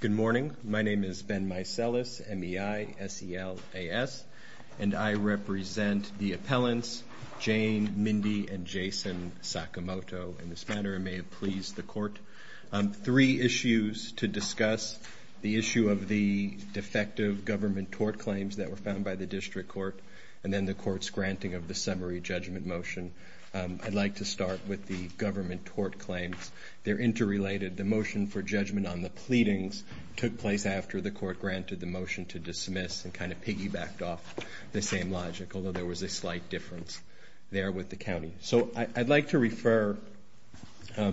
Good morning. My name is Ben Micellis, M-E-I-S-E-L-A-S, and I represent the appellants Jane Mindy and Jason Sakamoto in this matter. I may have pleased the court on three issues to discuss the issue of the defective government tort claims that were found by the district court and then the court's granting of the summary judgment motion. I'd like to start with the interrelated. The motion for judgment on the pleadings took place after the court granted the motion to dismiss and kind of piggybacked off the same logic, although there was a slight difference there with the county. So I'd like to refer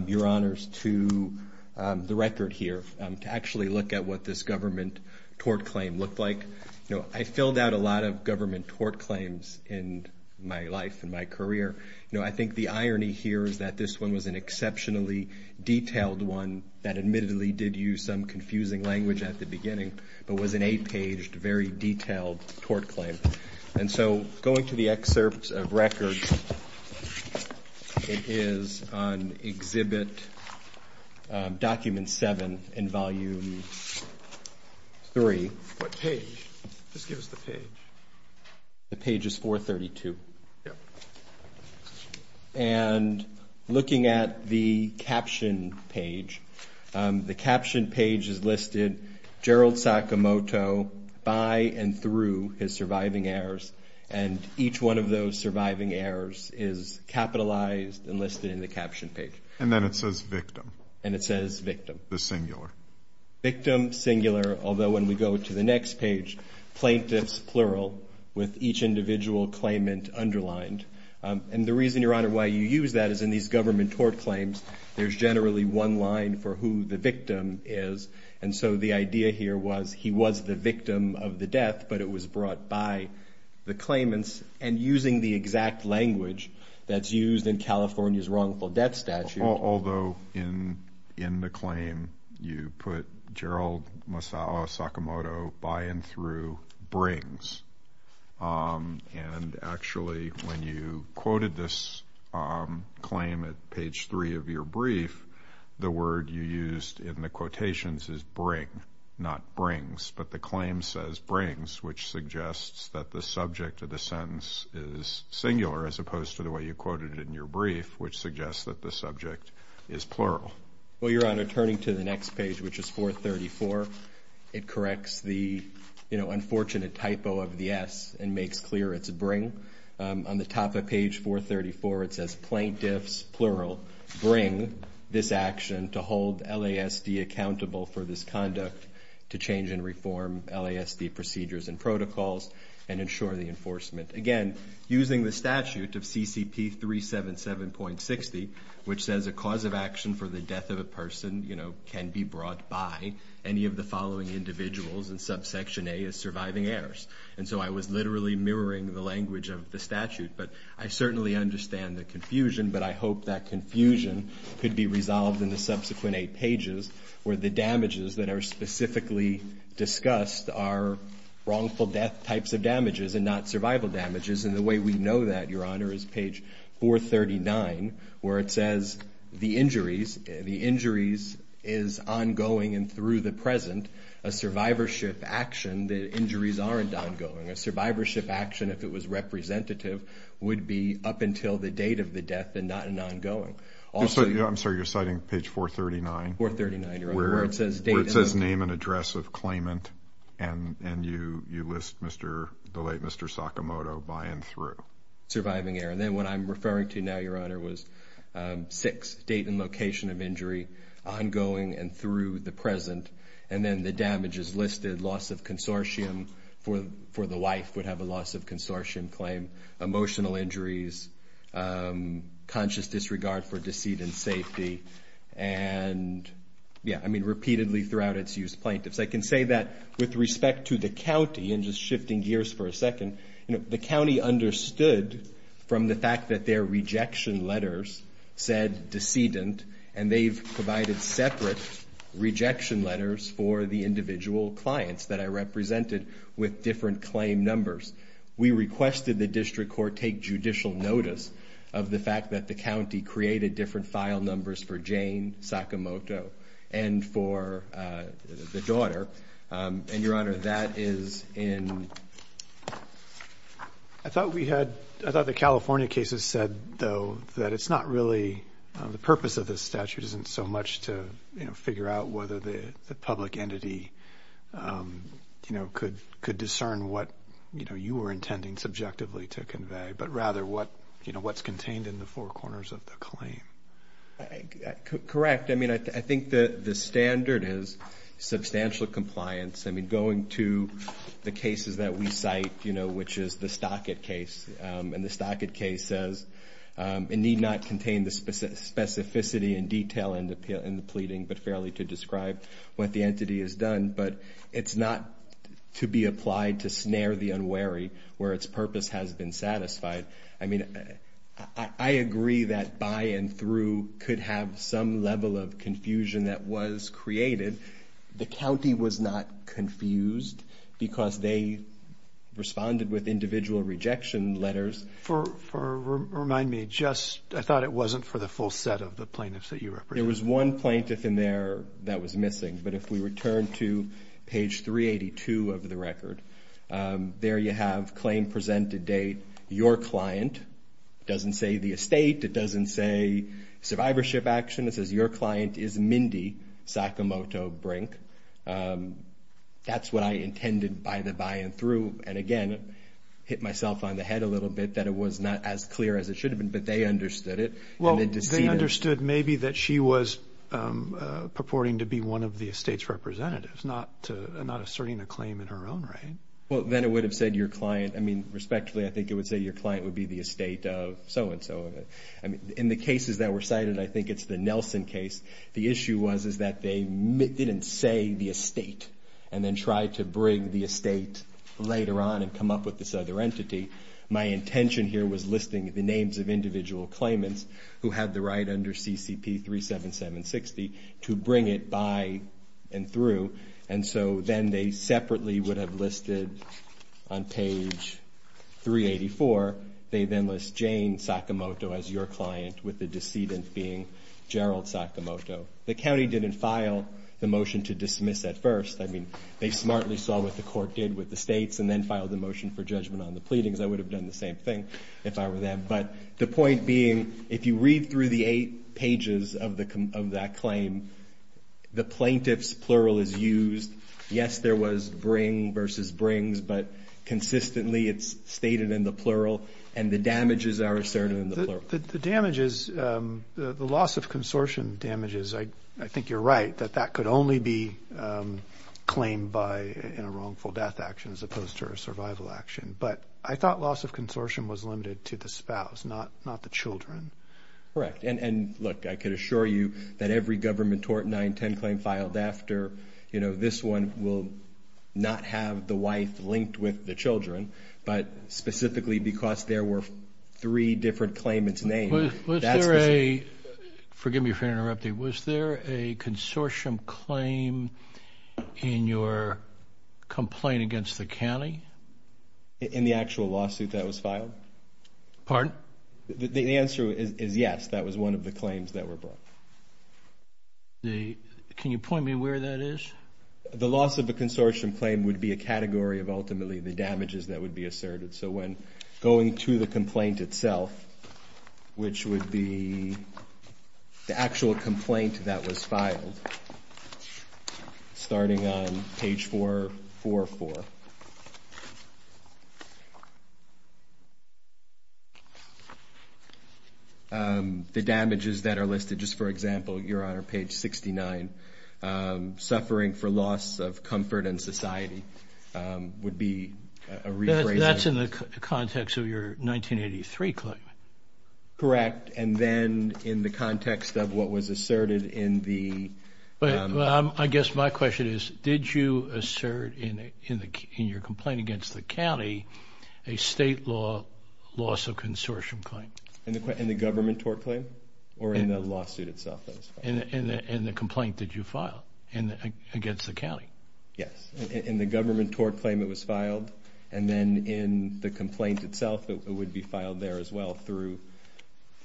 your honors to the record here to actually look at what this government tort claim looked like. I filled out a lot of government tort claims in my life and my career. I think the irony here is that this one was an exceptionally detailed one that admittedly did use some confusing language at the beginning, but was an eight page, very detailed tort claim. And so going to the excerpts of records, it is on exhibit document seven in volume three. What page? Just give us the page. The page is looking at the caption page. The caption page is listed Gerald Sakamoto by and through his surviving heirs. And each one of those surviving heirs is capitalized and listed in the caption page. And then it says victim. And it says victim. The singular. Victim singular. Although when we go to the next page, plaintiffs plural with each individual claimant underlined. And the reason, your honor, why you use that is in these government tort claims, there's generally one line for who the victim is. And so the idea here was he was the victim of the death, but it was brought by the claimants. And using the exact language that's used in California's wrongful death statute. Although in the claim you put Gerald Masao Sakamoto by and through brings. And actually when you quoted this claim at page three of your brief, the word you used in the quotations is bring, not brings. But the claim says brings, which suggests that the subject of the sentence is singular as opposed to the way you quoted it in your brief, which suggests that the subject is plural. Well, your honor, turning to the next page, which is 434, it corrects the, you know, unfortunate typo of the S and makes clear it's bring. On the top of page 434, it says plaintiffs plural bring this action to hold LASD accountable for this conduct to change and reform LASD procedures and protocols and ensure the enforcement. Again, using the statute of CCP 377.60, which says a cause of action for the death of a person, you know, can be brought by any of the following individuals in subsection A as surviving heirs. And so I was literally mirroring the language of the statute, but I certainly understand the confusion, but I hope that confusion could be resolved in the subsequent eight pages where the damages that are specifically discussed are wrongful death types of damages and not survival damages. And the way we know that, your honor, is page 439, where it says the injuries, the injuries is ongoing and through the present, a survivorship action, the injuries aren't ongoing. A survivorship action, if it was representative, would be up until the date of the death and not an ongoing. I'm sorry, you're citing page 439? 439, your honor. Where it says name and address of claimant, and you list the late Mr. Sakamoto by and through. Surviving heir, and then what I'm referring to now, your honor, was six, date and location of injury, ongoing and through the present, and then the damages listed, loss of consortium for the wife would have a loss of consortium claim, emotional injuries, conscious disregard for deceit and safety, and, yeah, I mean, repeatedly throughout its use plaintiffs. I can say that with respect to the county, and just shifting gears for a second, you know, the county understood from the fact that their rejection letters said decedent, and they've provided separate rejection letters for the individual clients that I represented with different claim numbers. We requested the district court take judicial notice of the fact that the county created different file numbers for Jane Sakamoto and for the daughter, and, your honor, that is in... I thought we had, I thought the California cases said, though, that it's not really, the purpose of this statute isn't so much to, you know, figure out whether the public entity, you know, could discern what, you know, you were intending subjectively to convey, but rather what, you know, what's contained in the four corners of the claim. Correct. I mean, I think the standard is substantial compliance. I mean, going to the cases that we cite, you know, which is the Stockett case, and the Stockett case says, it need not contain the specificity and detail in the pleading, but fairly to describe what the entity has to worry, where its purpose has been satisfied. I mean, I agree that by and through could have some level of confusion that was created. The county was not confused because they responded with individual rejection letters. For, remind me, just, I thought it wasn't for the full set of the plaintiffs that you represented. There was one plaintiff in there that was missing, but if we return to page 382 of the statute, you have claim presented date, your client. It doesn't say the estate. It doesn't say survivorship action. It says your client is Mindy Sakamoto Brink. That's what I intended by the by and through, and again, hit myself on the head a little bit that it was not as clear as it should have been, but they understood it. Well, they understood maybe that she was purporting to be one of the estate's representatives, not asserting a claim in her own right. Well, then it would have said your client. I mean, respectfully, I think it would say your client would be the estate of so and so. I mean, in the cases that were cited, I think it's the Nelson case. The issue was is that they didn't say the estate and then tried to bring the estate later on and come up with this other entity. My intention here was listing the names of individual claimants who had the right under CCP 37760 to bring it by and through, and so then they separately would have listed on page 384. They then list Jane Sakamoto as your client with the decedent being Gerald Sakamoto. The county didn't file the motion to dismiss at first. I mean, they smartly saw what the court did with the states and then filed the motion for judgment on the pleadings. I would have done the same thing if I were them, but the point being if you read through the eight claim, the plaintiff's plural is used. Yes, there was bring versus brings, but consistently it's stated in the plural and the damages are asserted in the plural. The damages, the loss of consortium damages, I think you're right that that could only be claimed by in a wrongful death action as opposed to a survival action, but I thought loss of consortium was limited to the spouse, not the children. Correct, and look, I could assure you that every government tort 910 claim filed after, you know, this one will not have the wife linked with the children, but specifically because there were three different claimants names. Was there a, forgive me for interrupting, was there a consortium claim in your complaint against the county? In the actual lawsuit that was filed? Pardon? The answer is yes, that was one of the claims that were brought. Can you point me where that is? The loss of a consortium claim would be a category of ultimately the damages that would be asserted, so when going to the complaint itself, which would be the actual complaint that was filed, starting on page 444. The damages that are listed, just for example, your honor, page 69, suffering for loss of comfort and society would be a rephrasing. That's in the context of your 1983 claim. Correct, and then in the context of what was asserted in the... I guess my question is, did you assert in your complaint against the county a state law loss of consortium claim? In the government tort claim, or in the lawsuit itself that was filed? In the complaint that you filed against the county. Yes, in the government tort claim it was filed, and then in the complaint itself it would be filed there as well through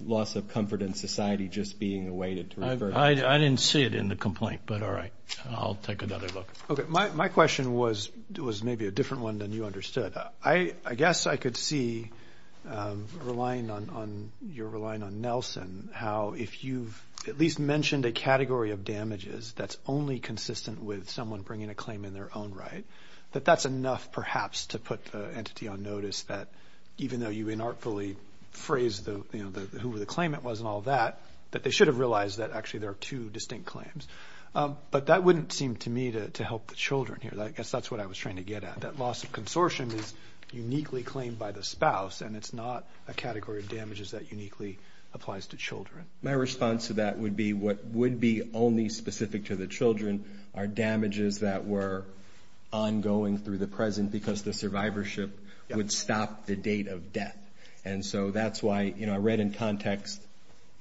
loss of comfort and society just being a way to refer to... I didn't see it in the complaint, but all right, I'll take another look. My question was maybe a different one than you understood. I guess I could see, relying on... You're relying on Nelson, how if you've at least mentioned a category of damages that's only consistent with someone bringing a claim in their own right, that that's enough perhaps to put the entity on notice that even though you inartfully phrased who the claimant was and all that, that they should have realized that actually there are two distinct claims. But that wouldn't seem to me to help the children here. I guess that's what I was trying to get at, that loss of consortium is uniquely claimed by the spouse and it's not a category of damages that uniquely applies to children. My response to that would be what would be only specific to the children are damages that were ongoing through the present because the survivorship would stop the date of death. And so that's why I read in context,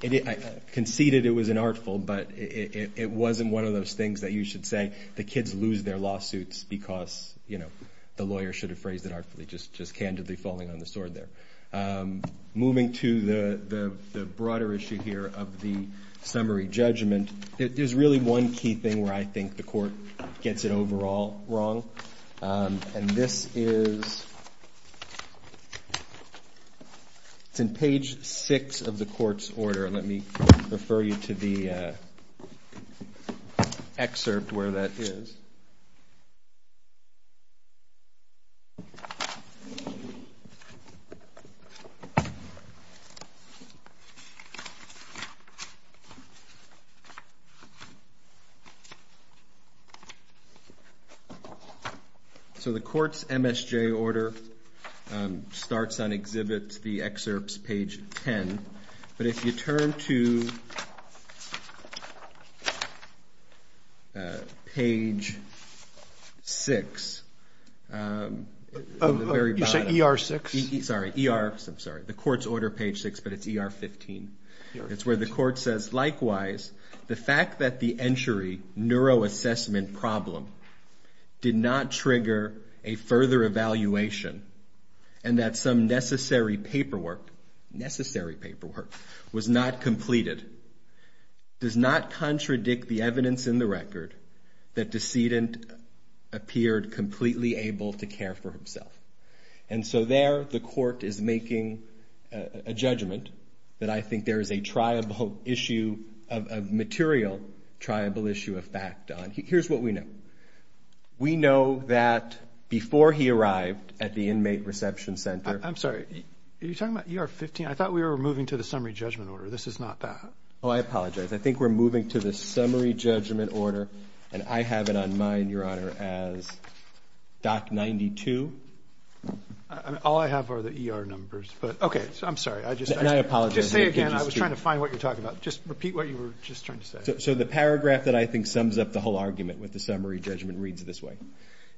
conceded it was inartful, but it wasn't one of those things that you should say, the kids lose their lawsuits because the lawyer should have phrased it artfully, just candidly falling on the sword there. Moving to the broader issue here of the summary judgment, there's really one key thing where I think the court gets it overall wrong. And this is, it's in page six of the court's order. Let me refer you to the excerpt where that is. So the court's MSJ order starts on exhibit, the excerpt's page 10, but if you turn to page six of the very bottom. You said ER6? Sorry, ER. I'm sorry. The court's order page six, but it's ER15. It's where the court says, likewise, the fact that the entry neuroassessment problem did not trigger a further evaluation and that some necessary paperwork, necessary paperwork, was not completed, does not contradict the evidence in the record that decedent appeared completely able to care for himself. And so there the court is making a judgment that I think there is a triable issue of material triable issue of fact on. Here's what we know. We know that before he arrived at the inmate reception center. I'm sorry. Are you talking about ER15? I thought we were moving to the summary judgment order. This is not that. Oh, I apologize. I think we're moving to the summary judgment order and I have it on mine, Your Honor, as doc 92. I mean, all I have are the ER numbers, but okay, I'm sorry. I just. And I apologize. Just say again. I was trying to find what you're talking about. Just repeat what you were just trying to say. So the paragraph that I think sums up the whole argument with the summary judgment reads this way.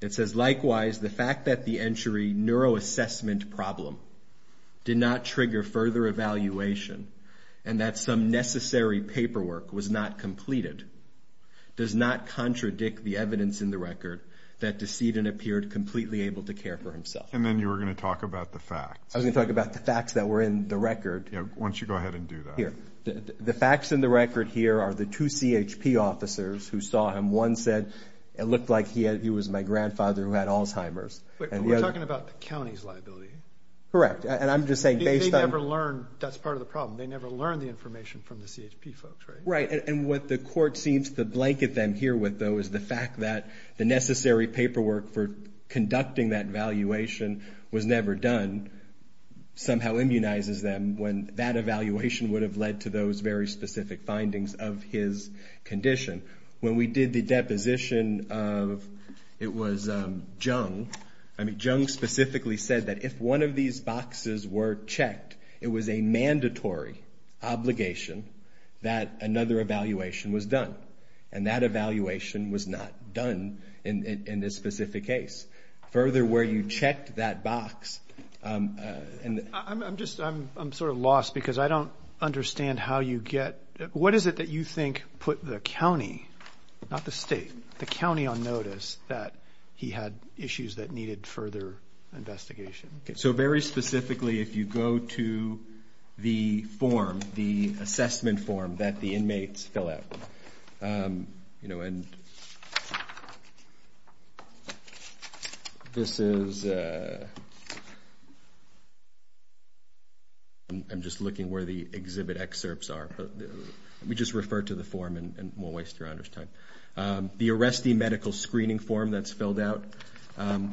It says, likewise, the fact that the entry neuroassessment problem did not trigger further evaluation and that some necessary paperwork was not completed, does not contradict the evidence in the record that decedent appeared completely able to care for himself. And then you were going to talk about the facts. I was going to talk about the facts that were in the record. Once you go ahead and do that. The facts in the record here are the two CHP officers who saw him. One said it looked like he was my grandfather who had Alzheimer's. But we're talking about the county's liability. Correct. And I'm just saying based on. They never learned. That's part of the problem. They never learned the information from the CHP folks, right? Right. And what the court seems to blanket them here with, though, is the fact that the necessary paperwork for conducting that valuation was never done somehow immunizes them when that evaluation would have led to those very specific findings of his condition. When we did the deposition of. It was Jung. I mean, Jung specifically said that if one of these boxes were checked, it was a mandatory obligation that another evaluation was done. And that evaluation was not done in this specific case. Further where you checked that box. And I'm just I'm sort of lost because I don't understand how you get. What is it that you think put the county, not the state, the county on notice that he had issues that needed further investigation? So very specifically, if you go to the form, the assessment form that the inmates fill out, you know, and. This is. I'm just looking where the exhibit excerpts are. We just refer to the form and we'll waste your honor's time. The arrestee medical screening form that's filled out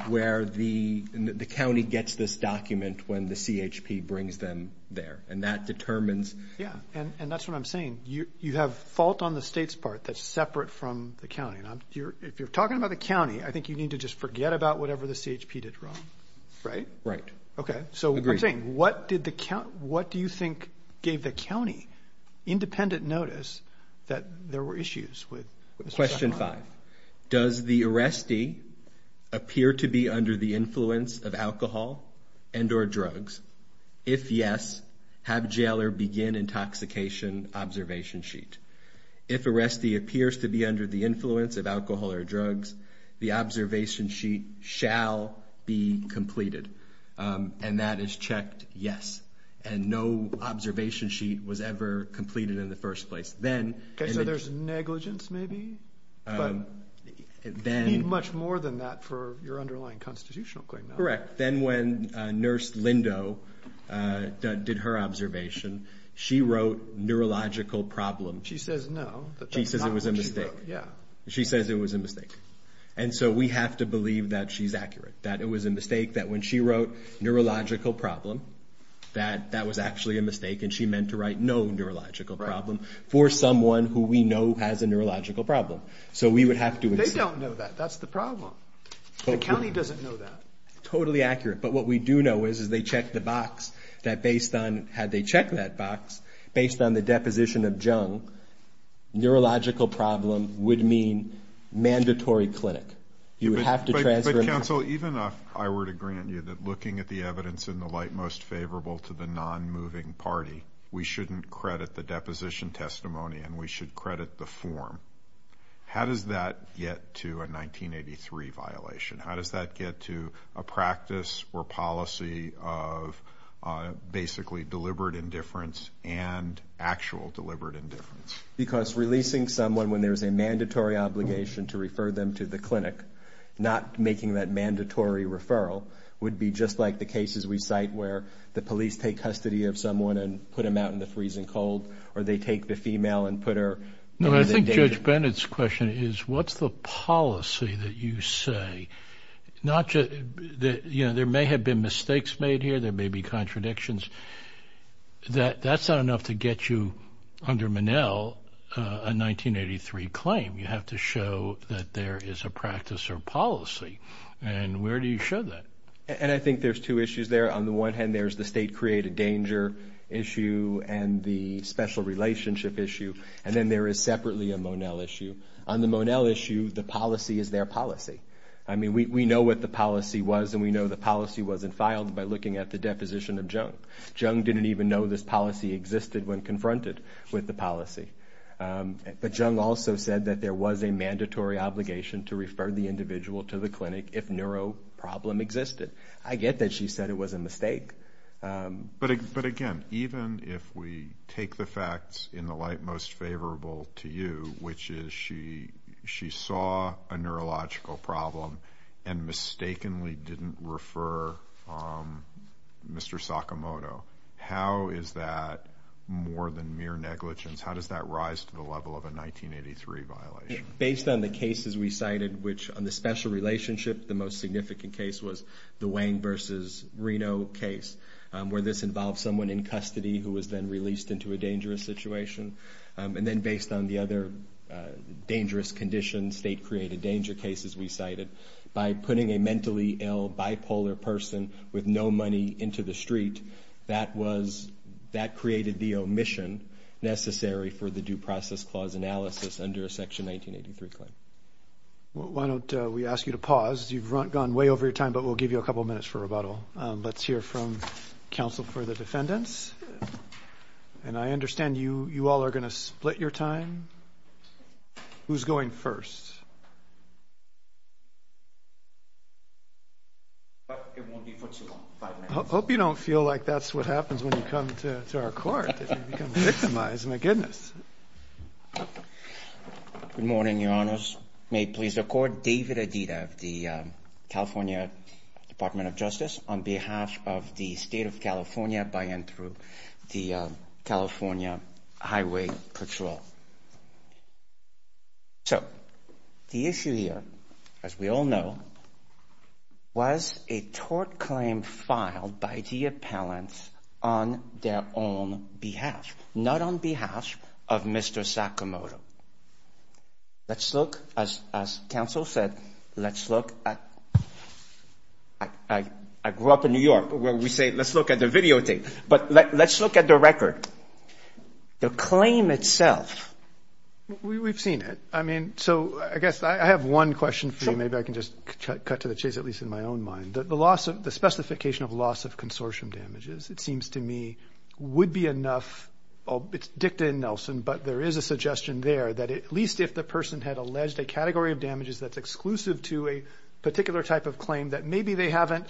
where the county gets this document when the CHP brings them there. And that determines. Yeah. And that's what I'm saying. You have fault on the state's part that's separate from the county. If you're talking about the county, I think you need to just forget about whatever the CHP did wrong. Right? Right. OK. So what did the count? What do you think gave the county independent notice that there were issues with? Question five. Does the arrestee appear to be under the influence of alcohol and or drugs? If yes, have jailer begin intoxication observation sheet. If arrestee appears to be under the influence of alcohol or drugs, the observation sheet shall be completed. And that is checked. Yes. And no observation sheet was ever completed in the first place. Then there's negligence, maybe then much more than that for your underlying constitutional claim. Correct. But then when Nurse Lindo did her observation, she wrote neurological problem. She says no. She says it was a mistake. Yeah. She says it was a mistake. And so we have to believe that she's accurate. That it was a mistake that when she wrote neurological problem, that that was actually a mistake. And she meant to write no neurological problem for someone who we know has a neurological problem. So we would have to. They don't know that. That's the problem. The county doesn't know that. Totally accurate. But what we do know is, is they checked the box that based on, had they checked that box, based on the deposition of Jung, neurological problem would mean mandatory clinic. You would have to transfer. But counsel, even if I were to grant you that looking at the evidence in the light most favorable to the non-moving party, we shouldn't credit the deposition testimony and we should credit the form. How does that get to a 1983 violation? How does that get to a practice or policy of basically deliberate indifference and actual deliberate indifference? Because releasing someone when there's a mandatory obligation to refer them to the clinic, not making that mandatory referral, would be just like the cases we cite where the police take custody of someone and put them out in the freezing cold, or they take the female and put her in the danger. No, I think Judge Bennett's question is, what's the policy that you say? Not just that, you know, there may have been mistakes made here. There may be contradictions. That's not enough to get you under Monell a 1983 claim. You have to show that there is a practice or policy. And where do you show that? And I think there's two issues there. On the one hand, there's the state created danger issue and the special relationship issue. And then there is separately a Monell issue. On the Monell issue, the policy is their policy. I mean, we know what the policy was and we know the policy wasn't filed by looking at the deposition of Jung. Jung didn't even know this policy existed when confronted with the policy. But Jung also said that there was a mandatory obligation to refer the individual to the clinic if neuro problem existed. I get that she said it was a mistake. But again, even if we take the facts in the light most favorable to you, which is she she saw a neurological problem and mistakenly didn't refer Mr. Sakamoto. How is that more than mere negligence? How does that rise to the level of a 1983 violation? Based on the cases we cited, which on the special relationship, the most significant case was the Wayne versus Reno case, where this involves someone in custody who was then released into a dangerous situation. And then based on the other dangerous conditions, state created danger cases we cited by putting a mentally ill bipolar person with no money into the street, that was that created the omission necessary for the due process clause analysis under a section 1983 claim. Why don't we ask you to pause? You've gone way over your time, but we'll give you a couple of minutes for rebuttal. Let's hear from counsel for the defendants. And I understand you. You all are going to split your time. Who's going first? I hope you don't feel like that's what happens when you come to our court, victimize my goodness. Good morning, your honors. May it please the court, David Adida of the California Department of Justice on behalf of the state of California by and through the California Highway Patrol. So the issue here, as we all know, was a tort claim filed by the appellants on their own behalf, not on behalf of Mr. Sakamoto. Let's look, as counsel said, let's look at, I grew up in New York where we say let's look at the videotape, but let's look at the record. The claim itself. We've seen it. I mean, so I guess I have one question for you. Maybe I can just cut to the chase, at least in my own mind. The specification of loss of consortium damages, it seems to me, would be enough. It's dicta in Nelson, but there is a suggestion there that at least if the person had alleged a category of damages that's exclusive to a particular type of claim that maybe they haven't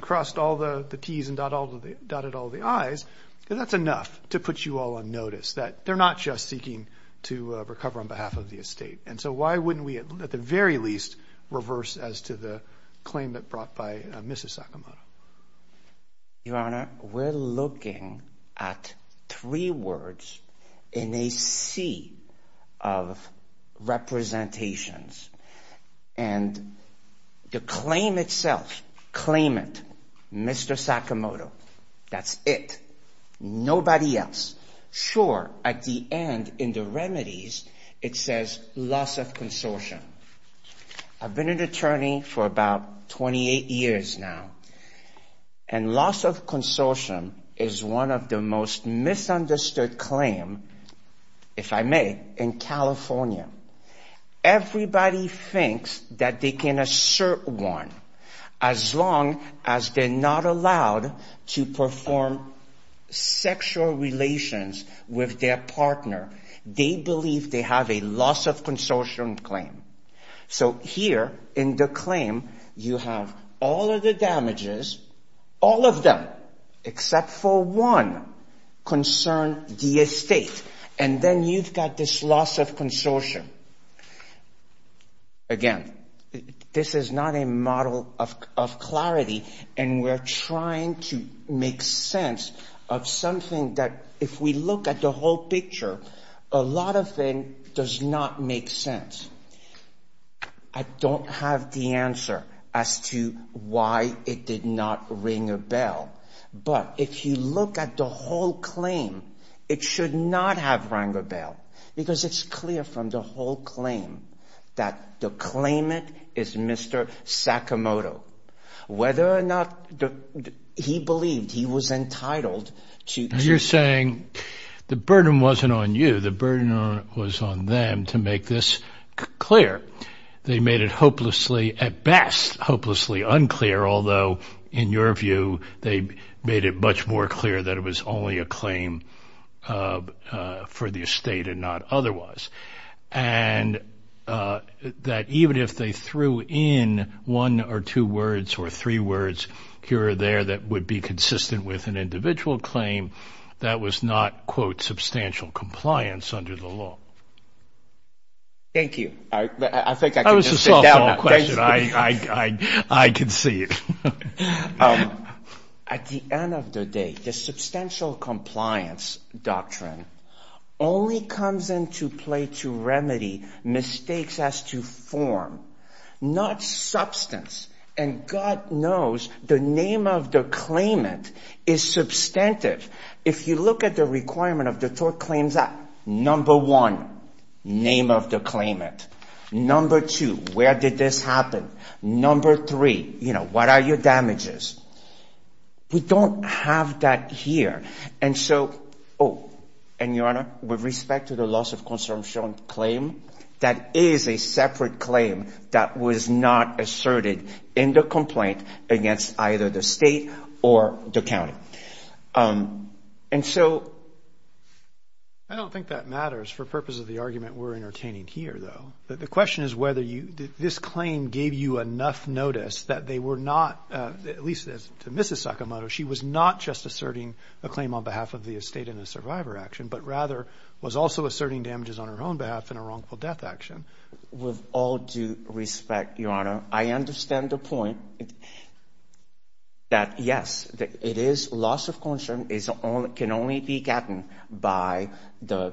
crossed all the T's and dotted all the I's, that's enough to put you all on notice that they're not just seeking to recover on behalf of the estate. And so why wouldn't we at the very least reverse as to the claim that brought by Mrs. Sakamoto? Your Honor, we're looking at three words in a sea of representations and the claim itself, claimant, Mr. Sakamoto, that's it. Nobody else. Sure. At the end in the remedies, it says loss of consortium. I've been an attorney for about 28 years now, and loss of consortium is one of the most misunderstood claims, if I may, in California. Everybody thinks that they can assert one as long as they're not allowed to perform sexual relations with their partner. They believe they have a loss of consortium claim. So here in the claim, you have all of the damages, all of them except for one concern the estate, and then you've got this loss of consortium. Again, this is not a model of clarity, and we're trying to make sense of something that if we look at the whole picture, a lot of things does not make sense. I don't have the answer as to why it did not ring a bell. But if you look at the whole claim, it should not have rang a bell because it's clear from the whole claim that the claimant is Mr. Sakamoto. Whether or not he believed he was entitled to- I'm saying the burden wasn't on you. The burden was on them to make this clear. They made it hopelessly, at best, hopelessly unclear, although in your view, they made it much more clear that it was only a claim for the estate and not otherwise. And that even if they threw in one or two words or three words here or there that would be consistent with an individual claim, that was not, quote, substantial compliance under the law. Thank you. I think I can just sit down now. That was a softball question. I can see it. At the end of the day, the substantial compliance doctrine only comes into play to remedy mistakes as to form, not substance. And God knows the name of the claimant is substantive. If you look at the requirement of the Tort Claims Act, number one, name of the claimant. Number two, where did this happen? Number three, what are your damages? We don't have that here. And so, oh, and Your Honor, with respect to the loss of consumption claim, that is a separate claim that was not asserted in the complaint against either the state or the county. And so. I don't think that matters. For purpose of the argument, we're entertaining here, though. The question is whether this claim gave you enough notice that they were not, at least to Mrs. Sakamoto, she was not just asserting a claim on behalf of the estate in a survivor action, but rather was also asserting damages on her own behalf in a wrongful death action. With all due respect, Your Honor, I understand the point that, yes, it is loss of consumption can only be gotten by the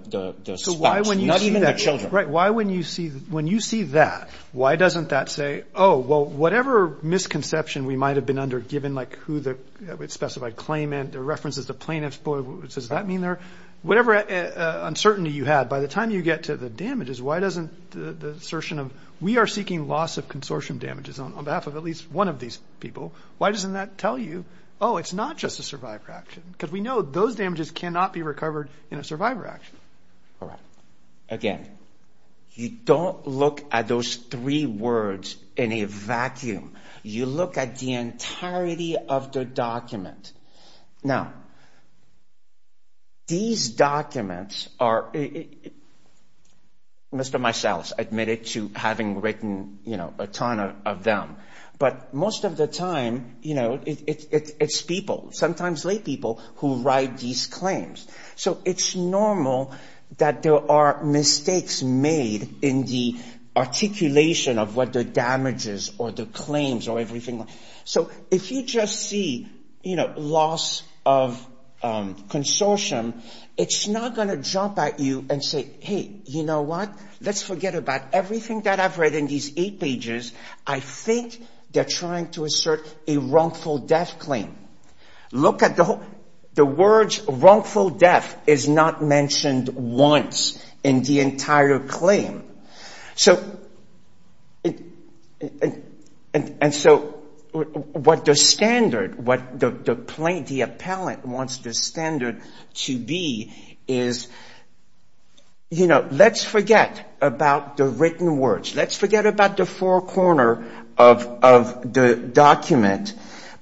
spouse, not even the children. Why when you see that, why doesn't that say, oh, well, whatever misconception we might have been under, given like who the specified claimant, the references to plaintiff's boy, does that mean they're, whatever uncertainty you had, by the time you get to the damages, why doesn't the assertion of, we are seeking loss of consortium damages on behalf of at least one of these people, why doesn't that tell you, oh, it's not just a survivor action? Because we know those damages cannot be recovered in a survivor action. Again, you don't look at those three words in a vacuum. You look at the entirety of the document. Now, these documents are, Mr. Maesalas admitted to having written, you know, a ton of them, but most of the time, you know, it's people, sometimes lay people who write these claims. So it's normal that there are mistakes made in the articulation of what the damages or the claims or everything. So if you just see, you know, loss of consortium, it's not going to jump at you and say, hey, you know what? Let's forget about everything that I've read in these eight pages. I think they're trying to assert a wrongful death claim. Look at the whole, the words wrongful death is not mentioned once in the entire claim. So, and so what the standard, what the plaintiff, the appellant wants the standard to be is, you know, let's forget about the written words. Let's forget about the four corner of the document.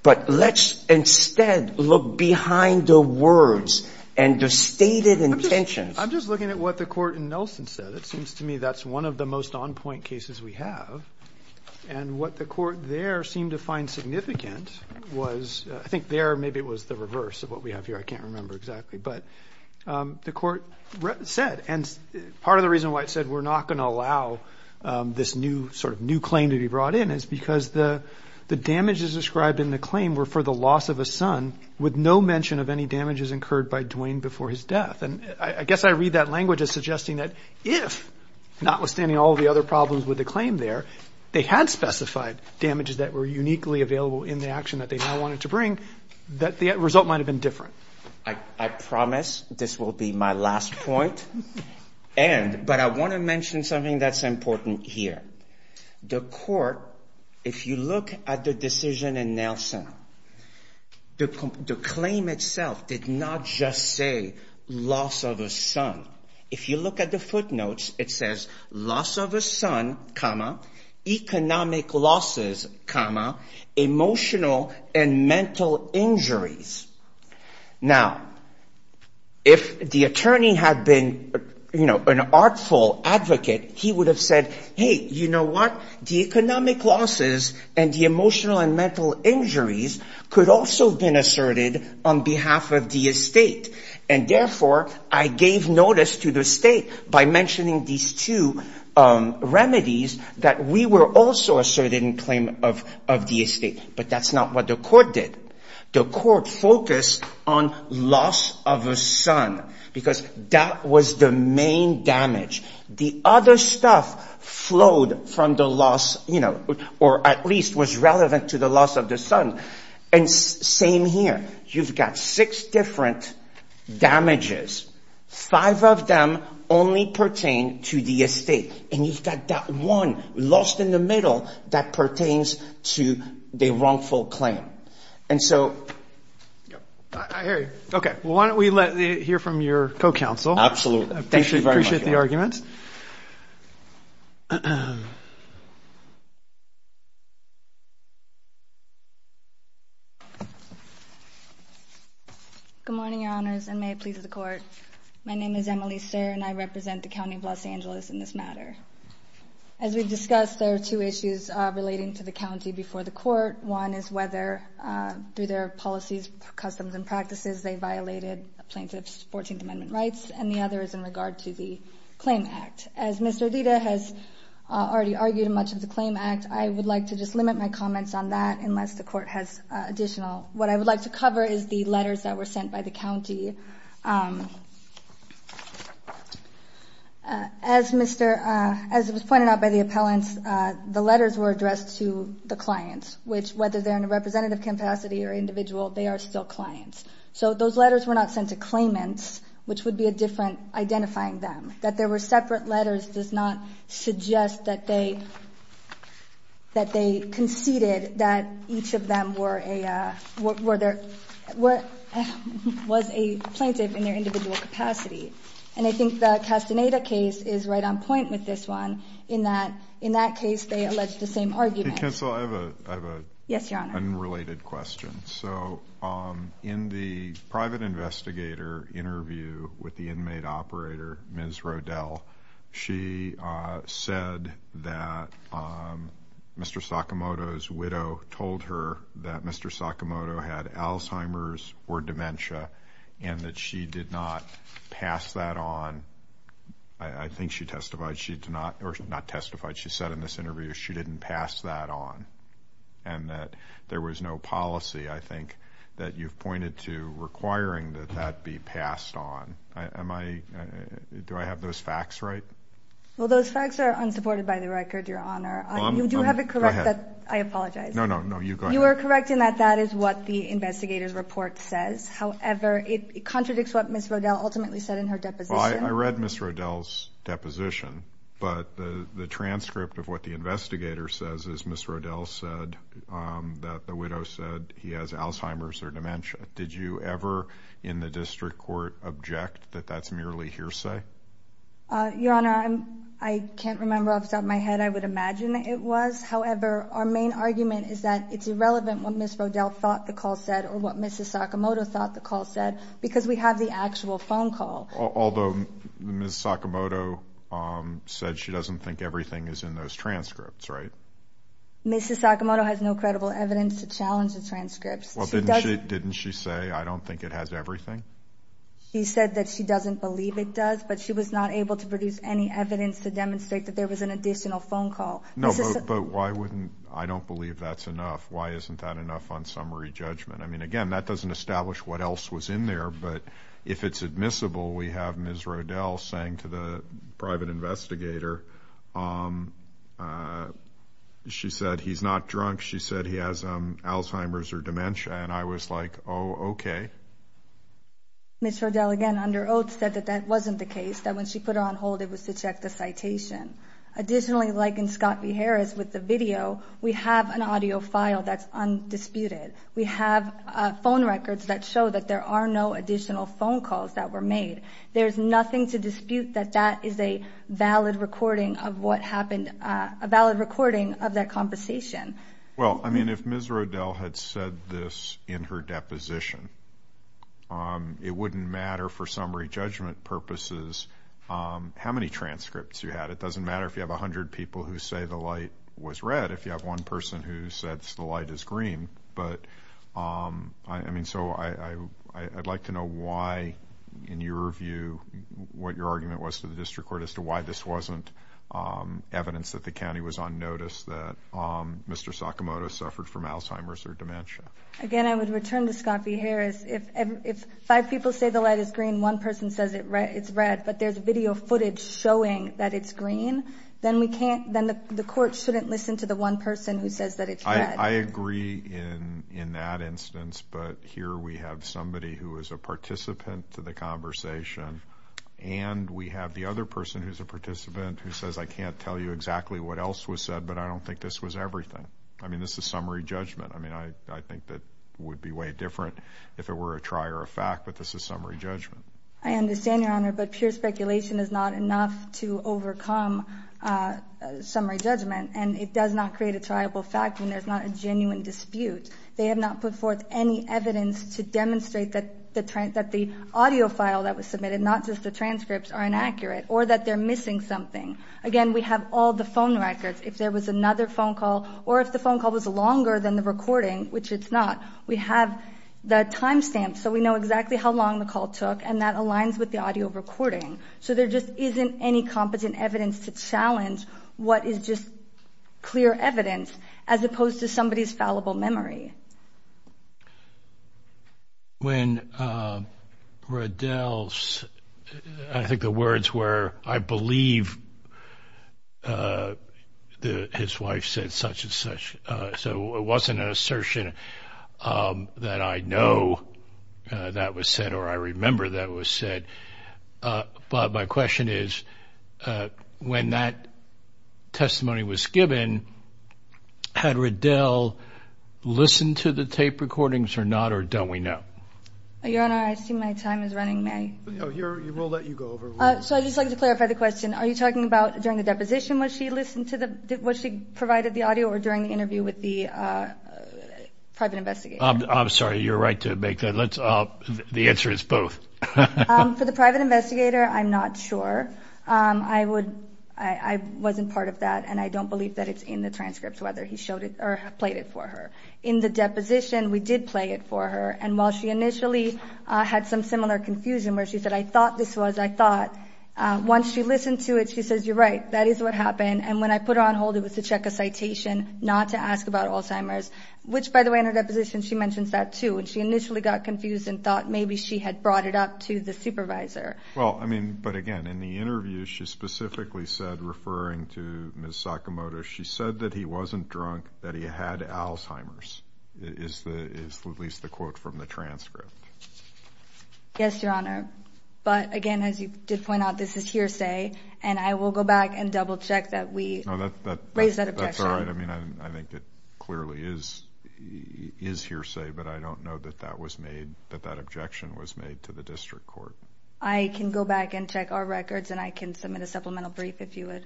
But let's instead look behind the words and the stated intentions. I'm just looking at what the court in Nelson said. It seems to me that's one of the most on point cases we have. And what the court there seemed to find significant was, I think there, maybe it was the reverse of what we have here. I can't remember exactly, but the court said, and part of the reason why it said we're not going to allow this new sort of new claim to be brought in is because the damages described in the claim were for the loss of a son with no mention of any damages incurred by Duane before his death. And I guess I read that language as suggesting that if, notwithstanding all of the other problems with the claim there, they had specified damages that were uniquely available in the action that they now wanted to bring, that the result might have been different. I promise this will be my last point. And, but I want to mention something that's important here. The court, if you look at the decision in Nelson, the claim itself did not just say loss of a son. If you look at the footnotes, it says loss of a son, economic losses, emotional and mental injuries. Now if the attorney had been, you know, an artful advocate, he would have said, hey, you know what? The economic losses and the emotional and mental injuries could also have been asserted on behalf of the estate. And therefore, I gave notice to the state by mentioning these two remedies that we were also asserted in claim of the estate. But that's not what the court did. The court focused on loss of a son because that was the main damage. The other stuff flowed from the loss, you know, or at least was relevant to the loss of the son. And same here, you've got six different damages. Five of them only pertain to the estate, and you've got that one lost in the middle that pertains to the wrongful claim. And so... I hear you. Okay. Well, why don't we let, hear from your co-counsel. Absolutely. Thank you very much. Appreciate the argument. Good morning, your honors, and may it please the court. My name is Emily Serr, and I represent the County of Los Angeles in this matter. As we've discussed, there are two issues relating to the county before the court. One is whether, through their policies, customs, and practices, they violated plaintiff's 14th Amendment rights. And the other is in regard to the Claim Act. As Ms. Rodita has already argued in much of the Claim Act, I would like to just limit my comments on that unless the court has additional. What I would like to cover is the letters that were sent by the county. As was pointed out by the appellants, the letters were addressed to the clients, which whether they're in a representative capacity or individual, they are still clients. So those letters were not sent to claimants, which would be a different identifying them. That there were separate letters does not suggest that they conceded that each of them were a plaintiff in their individual capacity. And I think the Castaneda case is right on point with this one in that, in that case, they allege the same argument. Hey, counsel, I have an unrelated question. So in the private investigator interview with the inmate operator, Ms. Rodel, she said that Mr. Sakamoto's widow told her that Mr. Sakamoto had Alzheimer's or dementia and that she did not pass that on. I think she testified, she did not, or not testified, she said in this interview she didn't pass that on. And that there was no policy, I think, that you've pointed to requiring that that be passed on. Am I, do I have those facts right? Well, those facts are unsupported by the record, your honor. You do have it correct that, I apologize. No, no, no, you go ahead. You are correct in that that is what the investigator's report says. However, it contradicts what Ms. Rodel ultimately said in her deposition. Well, I read Ms. Rodel's deposition, but the transcript of what the investigator says is that Ms. Rodel said that the widow said he has Alzheimer's or dementia. Did you ever, in the district court, object that that's merely hearsay? Your honor, I can't remember off the top of my head. I would imagine it was. However, our main argument is that it's irrelevant what Ms. Rodel thought the call said or what Mrs. Sakamoto thought the call said because we have the actual phone call. Although, Ms. Sakamoto said she doesn't think everything is in those transcripts, right? Mrs. Sakamoto has no credible evidence to challenge the transcripts. Well, didn't she say, I don't think it has everything? She said that she doesn't believe it does, but she was not able to produce any evidence to demonstrate that there was an additional phone call. No, but why wouldn't, I don't believe that's enough. Why isn't that enough on summary judgment? I mean, again, that doesn't establish what else was in there, but if it's admissible, we have Ms. Rodel saying to the private investigator, she said he's not drunk. She said he has Alzheimer's or dementia, and I was like, oh, okay. Ms. Rodel, again, under oath, said that that wasn't the case, that when she put it on hold it was to check the citation. Additionally, like in Scott v. Harris with the video, we have an audio file that's undisputed. We have phone records that show that there are no additional phone calls that were made. There's nothing to dispute that that is a valid recording of what happened, a valid recording of that conversation. Well, I mean, if Ms. Rodel had said this in her deposition, it wouldn't matter for summary judgment purposes how many transcripts you had. It doesn't matter if you have 100 people who say the light was red, if you have one person who said the light is green. But, I mean, so I'd like to know why, in your view, what your argument was to the district court as to why this wasn't evidence that the county was on notice that Mr. Sakamoto suffered from Alzheimer's or dementia. Again, I would return to Scott v. Harris. If five people say the light is green, one person says it's red, but there's video footage showing that it's green, then we can't, then the court shouldn't listen to the one person who says that it's red. I agree in that instance, but here we have somebody who is a participant to the conversation, and we have the other person who's a participant who says, I can't tell you exactly what else was said, but I don't think this was everything. I mean, this is summary judgment. I mean, I think that would be way different if it were a trier of fact, but this is summary judgment. I understand, Your Honor, but pure speculation is not enough to overcome summary judgment, and it does not create a triable fact when there's not a genuine dispute. They have not put forth any evidence to demonstrate that the audio file that was submitted, not just the transcripts, are inaccurate or that they're missing something. Again, we have all the phone records. If there was another phone call or if the phone call was longer than the recording, which it's not, we have the timestamp so we know exactly how long the call took, and that aligns with the audio recording. So there just isn't any competent evidence to challenge what is just clear evidence as opposed to somebody's fallible memory. When Riddell's, I think the words were, I believe his wife said such and such, so it wasn't an assertion that I know that was said or I remember that was said. But my question is, when that testimony was given, had Riddell listened to the tape recordings or not, or don't we know? Your Honor, I see my time is running, may I? No, we'll let you go over. So I'd just like to clarify the question. Are you talking about during the deposition, was she listened to the, was she provided the audio or during the interview with the private investigator? I'm sorry, you're right to make that, let's, the answer is both. For the private investigator, I'm not sure. I would, I wasn't part of that and I don't believe that it's in the transcripts whether he showed it or played it for her. In the deposition, we did play it for her, and while she initially had some similar confusion where she said, I thought this was, I thought, once she listened to it, she says, you're right, that is what happened. And when I put her on hold, it was to check a citation, not to ask about Alzheimer's, which, by the way, in her deposition, she mentions that too, and she initially got confused and thought maybe she had brought it up to the supervisor. Well, I mean, but again, in the interview, she specifically said, referring to Ms. Sakamoto, she said that he wasn't drunk, that he had Alzheimer's, is the, is at least the quote from the transcript. Yes, Your Honor. But again, as you did point out, this is hearsay, and I will go back and double check that we raised that objection. No, that's all right. I mean, I think it clearly is hearsay, but I don't know that that was made, that that objection was made to the district court. I can go back and check our records, and I can submit a supplemental brief if you would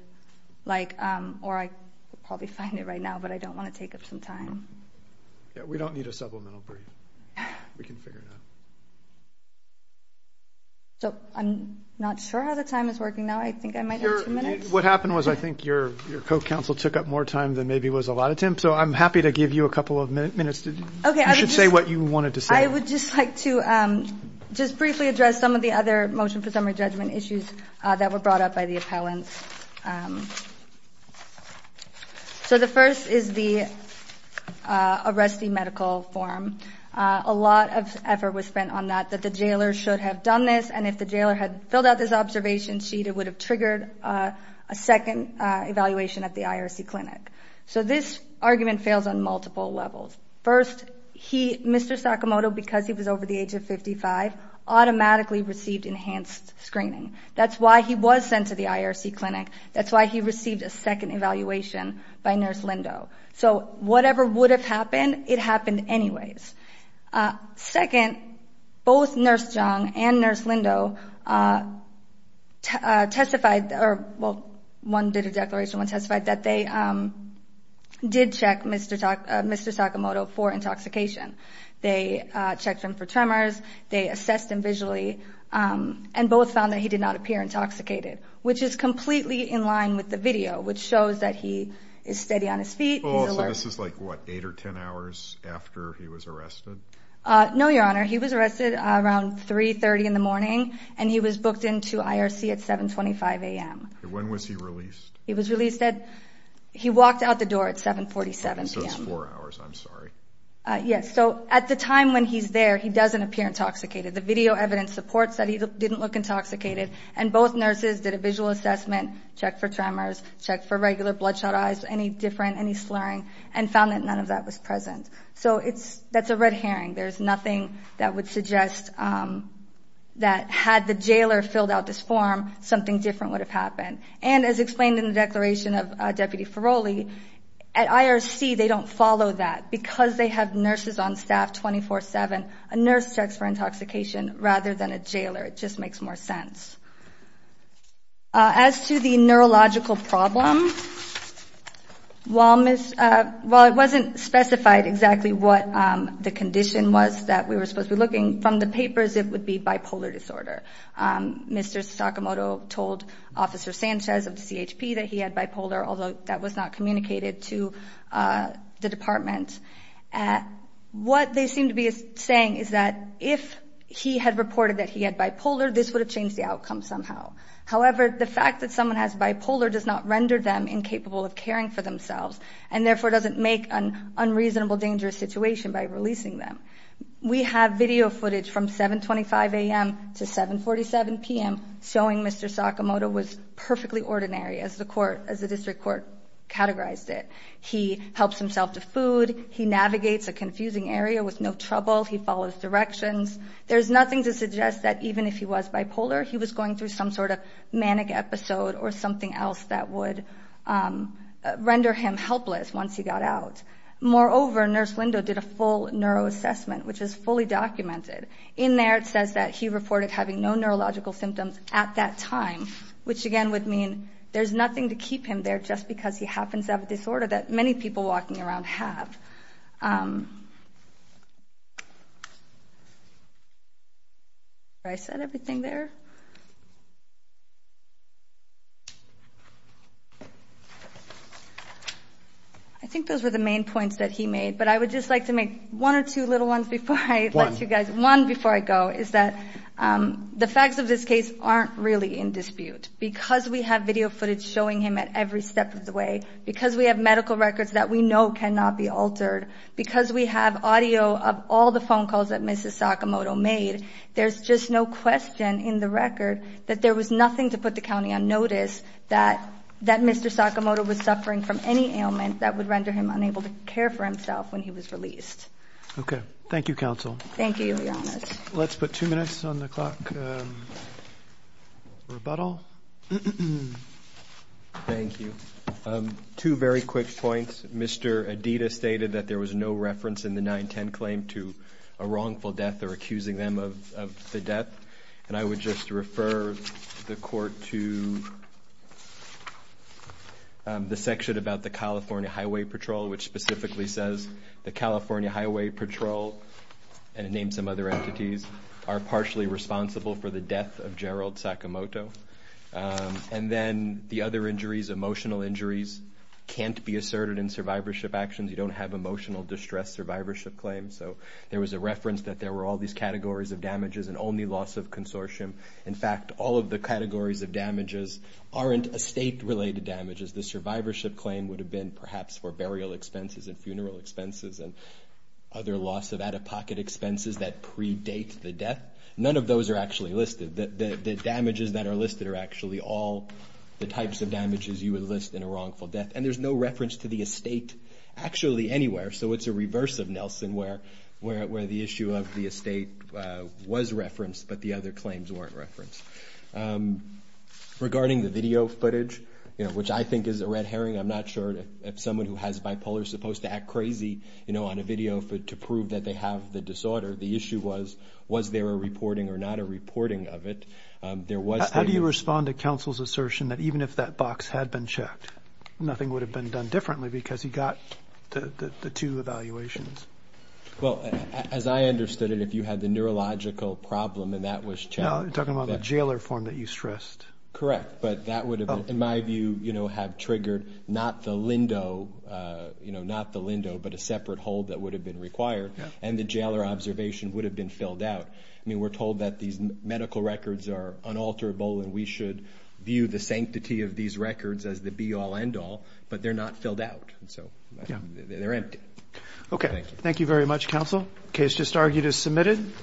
like, or I could probably find it right now, but I don't want to take up some time. Yeah, we don't need a supplemental brief. We can figure it out. So, I'm not sure how the time is working now. I think I might have two minutes. What happened was I think your co-counsel took up more time than maybe was allotted to him, so I'm happy to give you a couple of minutes. You should say what you wanted to say. I would just like to just briefly address some of the other motion for summary judgment issues that were brought up by the appellants. So, the first is the arrestee medical form. A lot of effort was spent on that, that the jailer should have done this, and if the jailer had filled out this observation sheet, it would have triggered a second evaluation at the IRC clinic. So, this argument fails on multiple levels. First, Mr. Sakamoto, because he was over the age of 55, automatically received enhanced screening. That's why he was sent to the IRC clinic. That's why he received a second evaluation by Nurse Lindo. So, whatever would have happened, it happened anyways. Second, both Nurse Zhang and Nurse Lindo testified, or, well, one did a declaration, one testified that they did check Mr. Sakamoto for intoxication. They checked him for tremors. They assessed him visually, and both found that he did not appear intoxicated, which is completely in line with the video, which shows that he is steady on his feet. He's alert. So, this is like, what, eight or 10 hours after he was arrested? No, Your Honor. He was arrested around 3.30 in the morning, and he was booked into IRC at 7.25 a.m. When was he released? He was released at, he walked out the door at 7.47 p.m. So, it's four hours, I'm sorry. Yes, so, at the time when he's there, he doesn't appear intoxicated. The video evidence supports that he didn't look intoxicated, and both nurses did a visual assessment, checked for tremors, checked for regular bloodshot eyes, any different, any slurring, and found that none of that was present. So, that's a red herring. There's nothing that would suggest that had the jailer filled out this form, something different would have happened. And, as explained in the declaration of Deputy Ferroli, at IRC, they don't follow that. Because they have nurses on staff 24-7, a nurse checks for intoxication rather than a jailer. It just makes more sense. As to the neurological problem, that we were supposed to be looking, from the papers, it would be bipolar disorder. Mr. Sakamoto told Officer Sanchez of CHP that he had bipolar, although that was not communicated to the department. What they seem to be saying is that if he had reported that he had bipolar, this would have changed the outcome somehow. However, the fact that someone has bipolar does not render them incapable of caring for themselves, and therefore doesn't make an unreasonable, dangerous situation by releasing them. We have video footage from 7.25 a.m. to 7.47 p.m. showing Mr. Sakamoto was perfectly ordinary, as the district court categorized it. He helps himself to food, he navigates a confusing area with no trouble, he follows directions. There's nothing to suggest that even if he was bipolar, he was going through some sort of manic episode or something else that would render him helpless once he got out. Moreover, Nurse Lindo did a full neuroassessment, which is fully documented. In there, it says that he reported having no neurological symptoms at that time, which again would mean there's nothing to keep him there just because he happens to have a disorder that many people walking around have. Did I set everything there? I think those were the main points that he made, but I would just like to make one or two little ones before I let you guys, one before I go, is that the facts of this case aren't really in dispute. Because we have video footage showing him at every step of the way, because we have medical records that we know cannot be altered, because we have audio of all the phone calls there's just no question in the record that he was a very, very normal person. That there was nothing to put the county on notice that Mr. Sakamoto was suffering from any ailment that would render him unable to care for himself when he was released. Okay, thank you, Counsel. Thank you, Your Honor. Let's put two minutes on the clock. Rebuttal. Thank you. Two very quick points. Mr. Adida stated that there was no reference in the 910 claim to a wrongful death or accusing them of the death. And I would just refer the court to the section about the California Highway Patrol, which specifically says, the California Highway Patrol, and name some other entities, are partially responsible for the death of Gerald Sakamoto. And then the other injuries, emotional injuries, can't be asserted in survivorship actions. You don't have emotional distress survivorship claims. So there was a reference that there were all these categories of damages and only loss of consortium. In fact, all of the categories of damages aren't estate related damages. The survivorship claim would have been perhaps for burial expenses and funeral expenses and other loss of out-of-pocket expenses that predate the death. None of those are actually listed. The damages that are listed are actually all the types of damages you would list in a wrongful death. And there's no reference to the estate actually anywhere. So it's a reverse of Nelson where the issue of the estate was referenced, but the other claims weren't referenced. Regarding the video footage, which I think is a red herring. I'm not sure if someone who has bipolar is supposed to act crazy on a video to prove that they have the disorder. The issue was, was there a reporting or not a reporting of it? There was- How do you respond to counsel's assertion that even if that box had been checked, nothing would have been done differently because he got the two evaluations? Well, as I understood it, if you had the neurological problem and that was checked- No, you're talking about the jailer form that you stressed. Correct. But that would have, in my view, have triggered not the Lindo, not the Lindo, but a separate hold that would have been required and the jailer observation would have been filled out. I mean, we're told that these medical records are unalterable and we should view the sanctity of these records as the be all end all, but they're not filled out. And so they're empty. Okay. Thank you very much, counsel. Case just argued as submitted.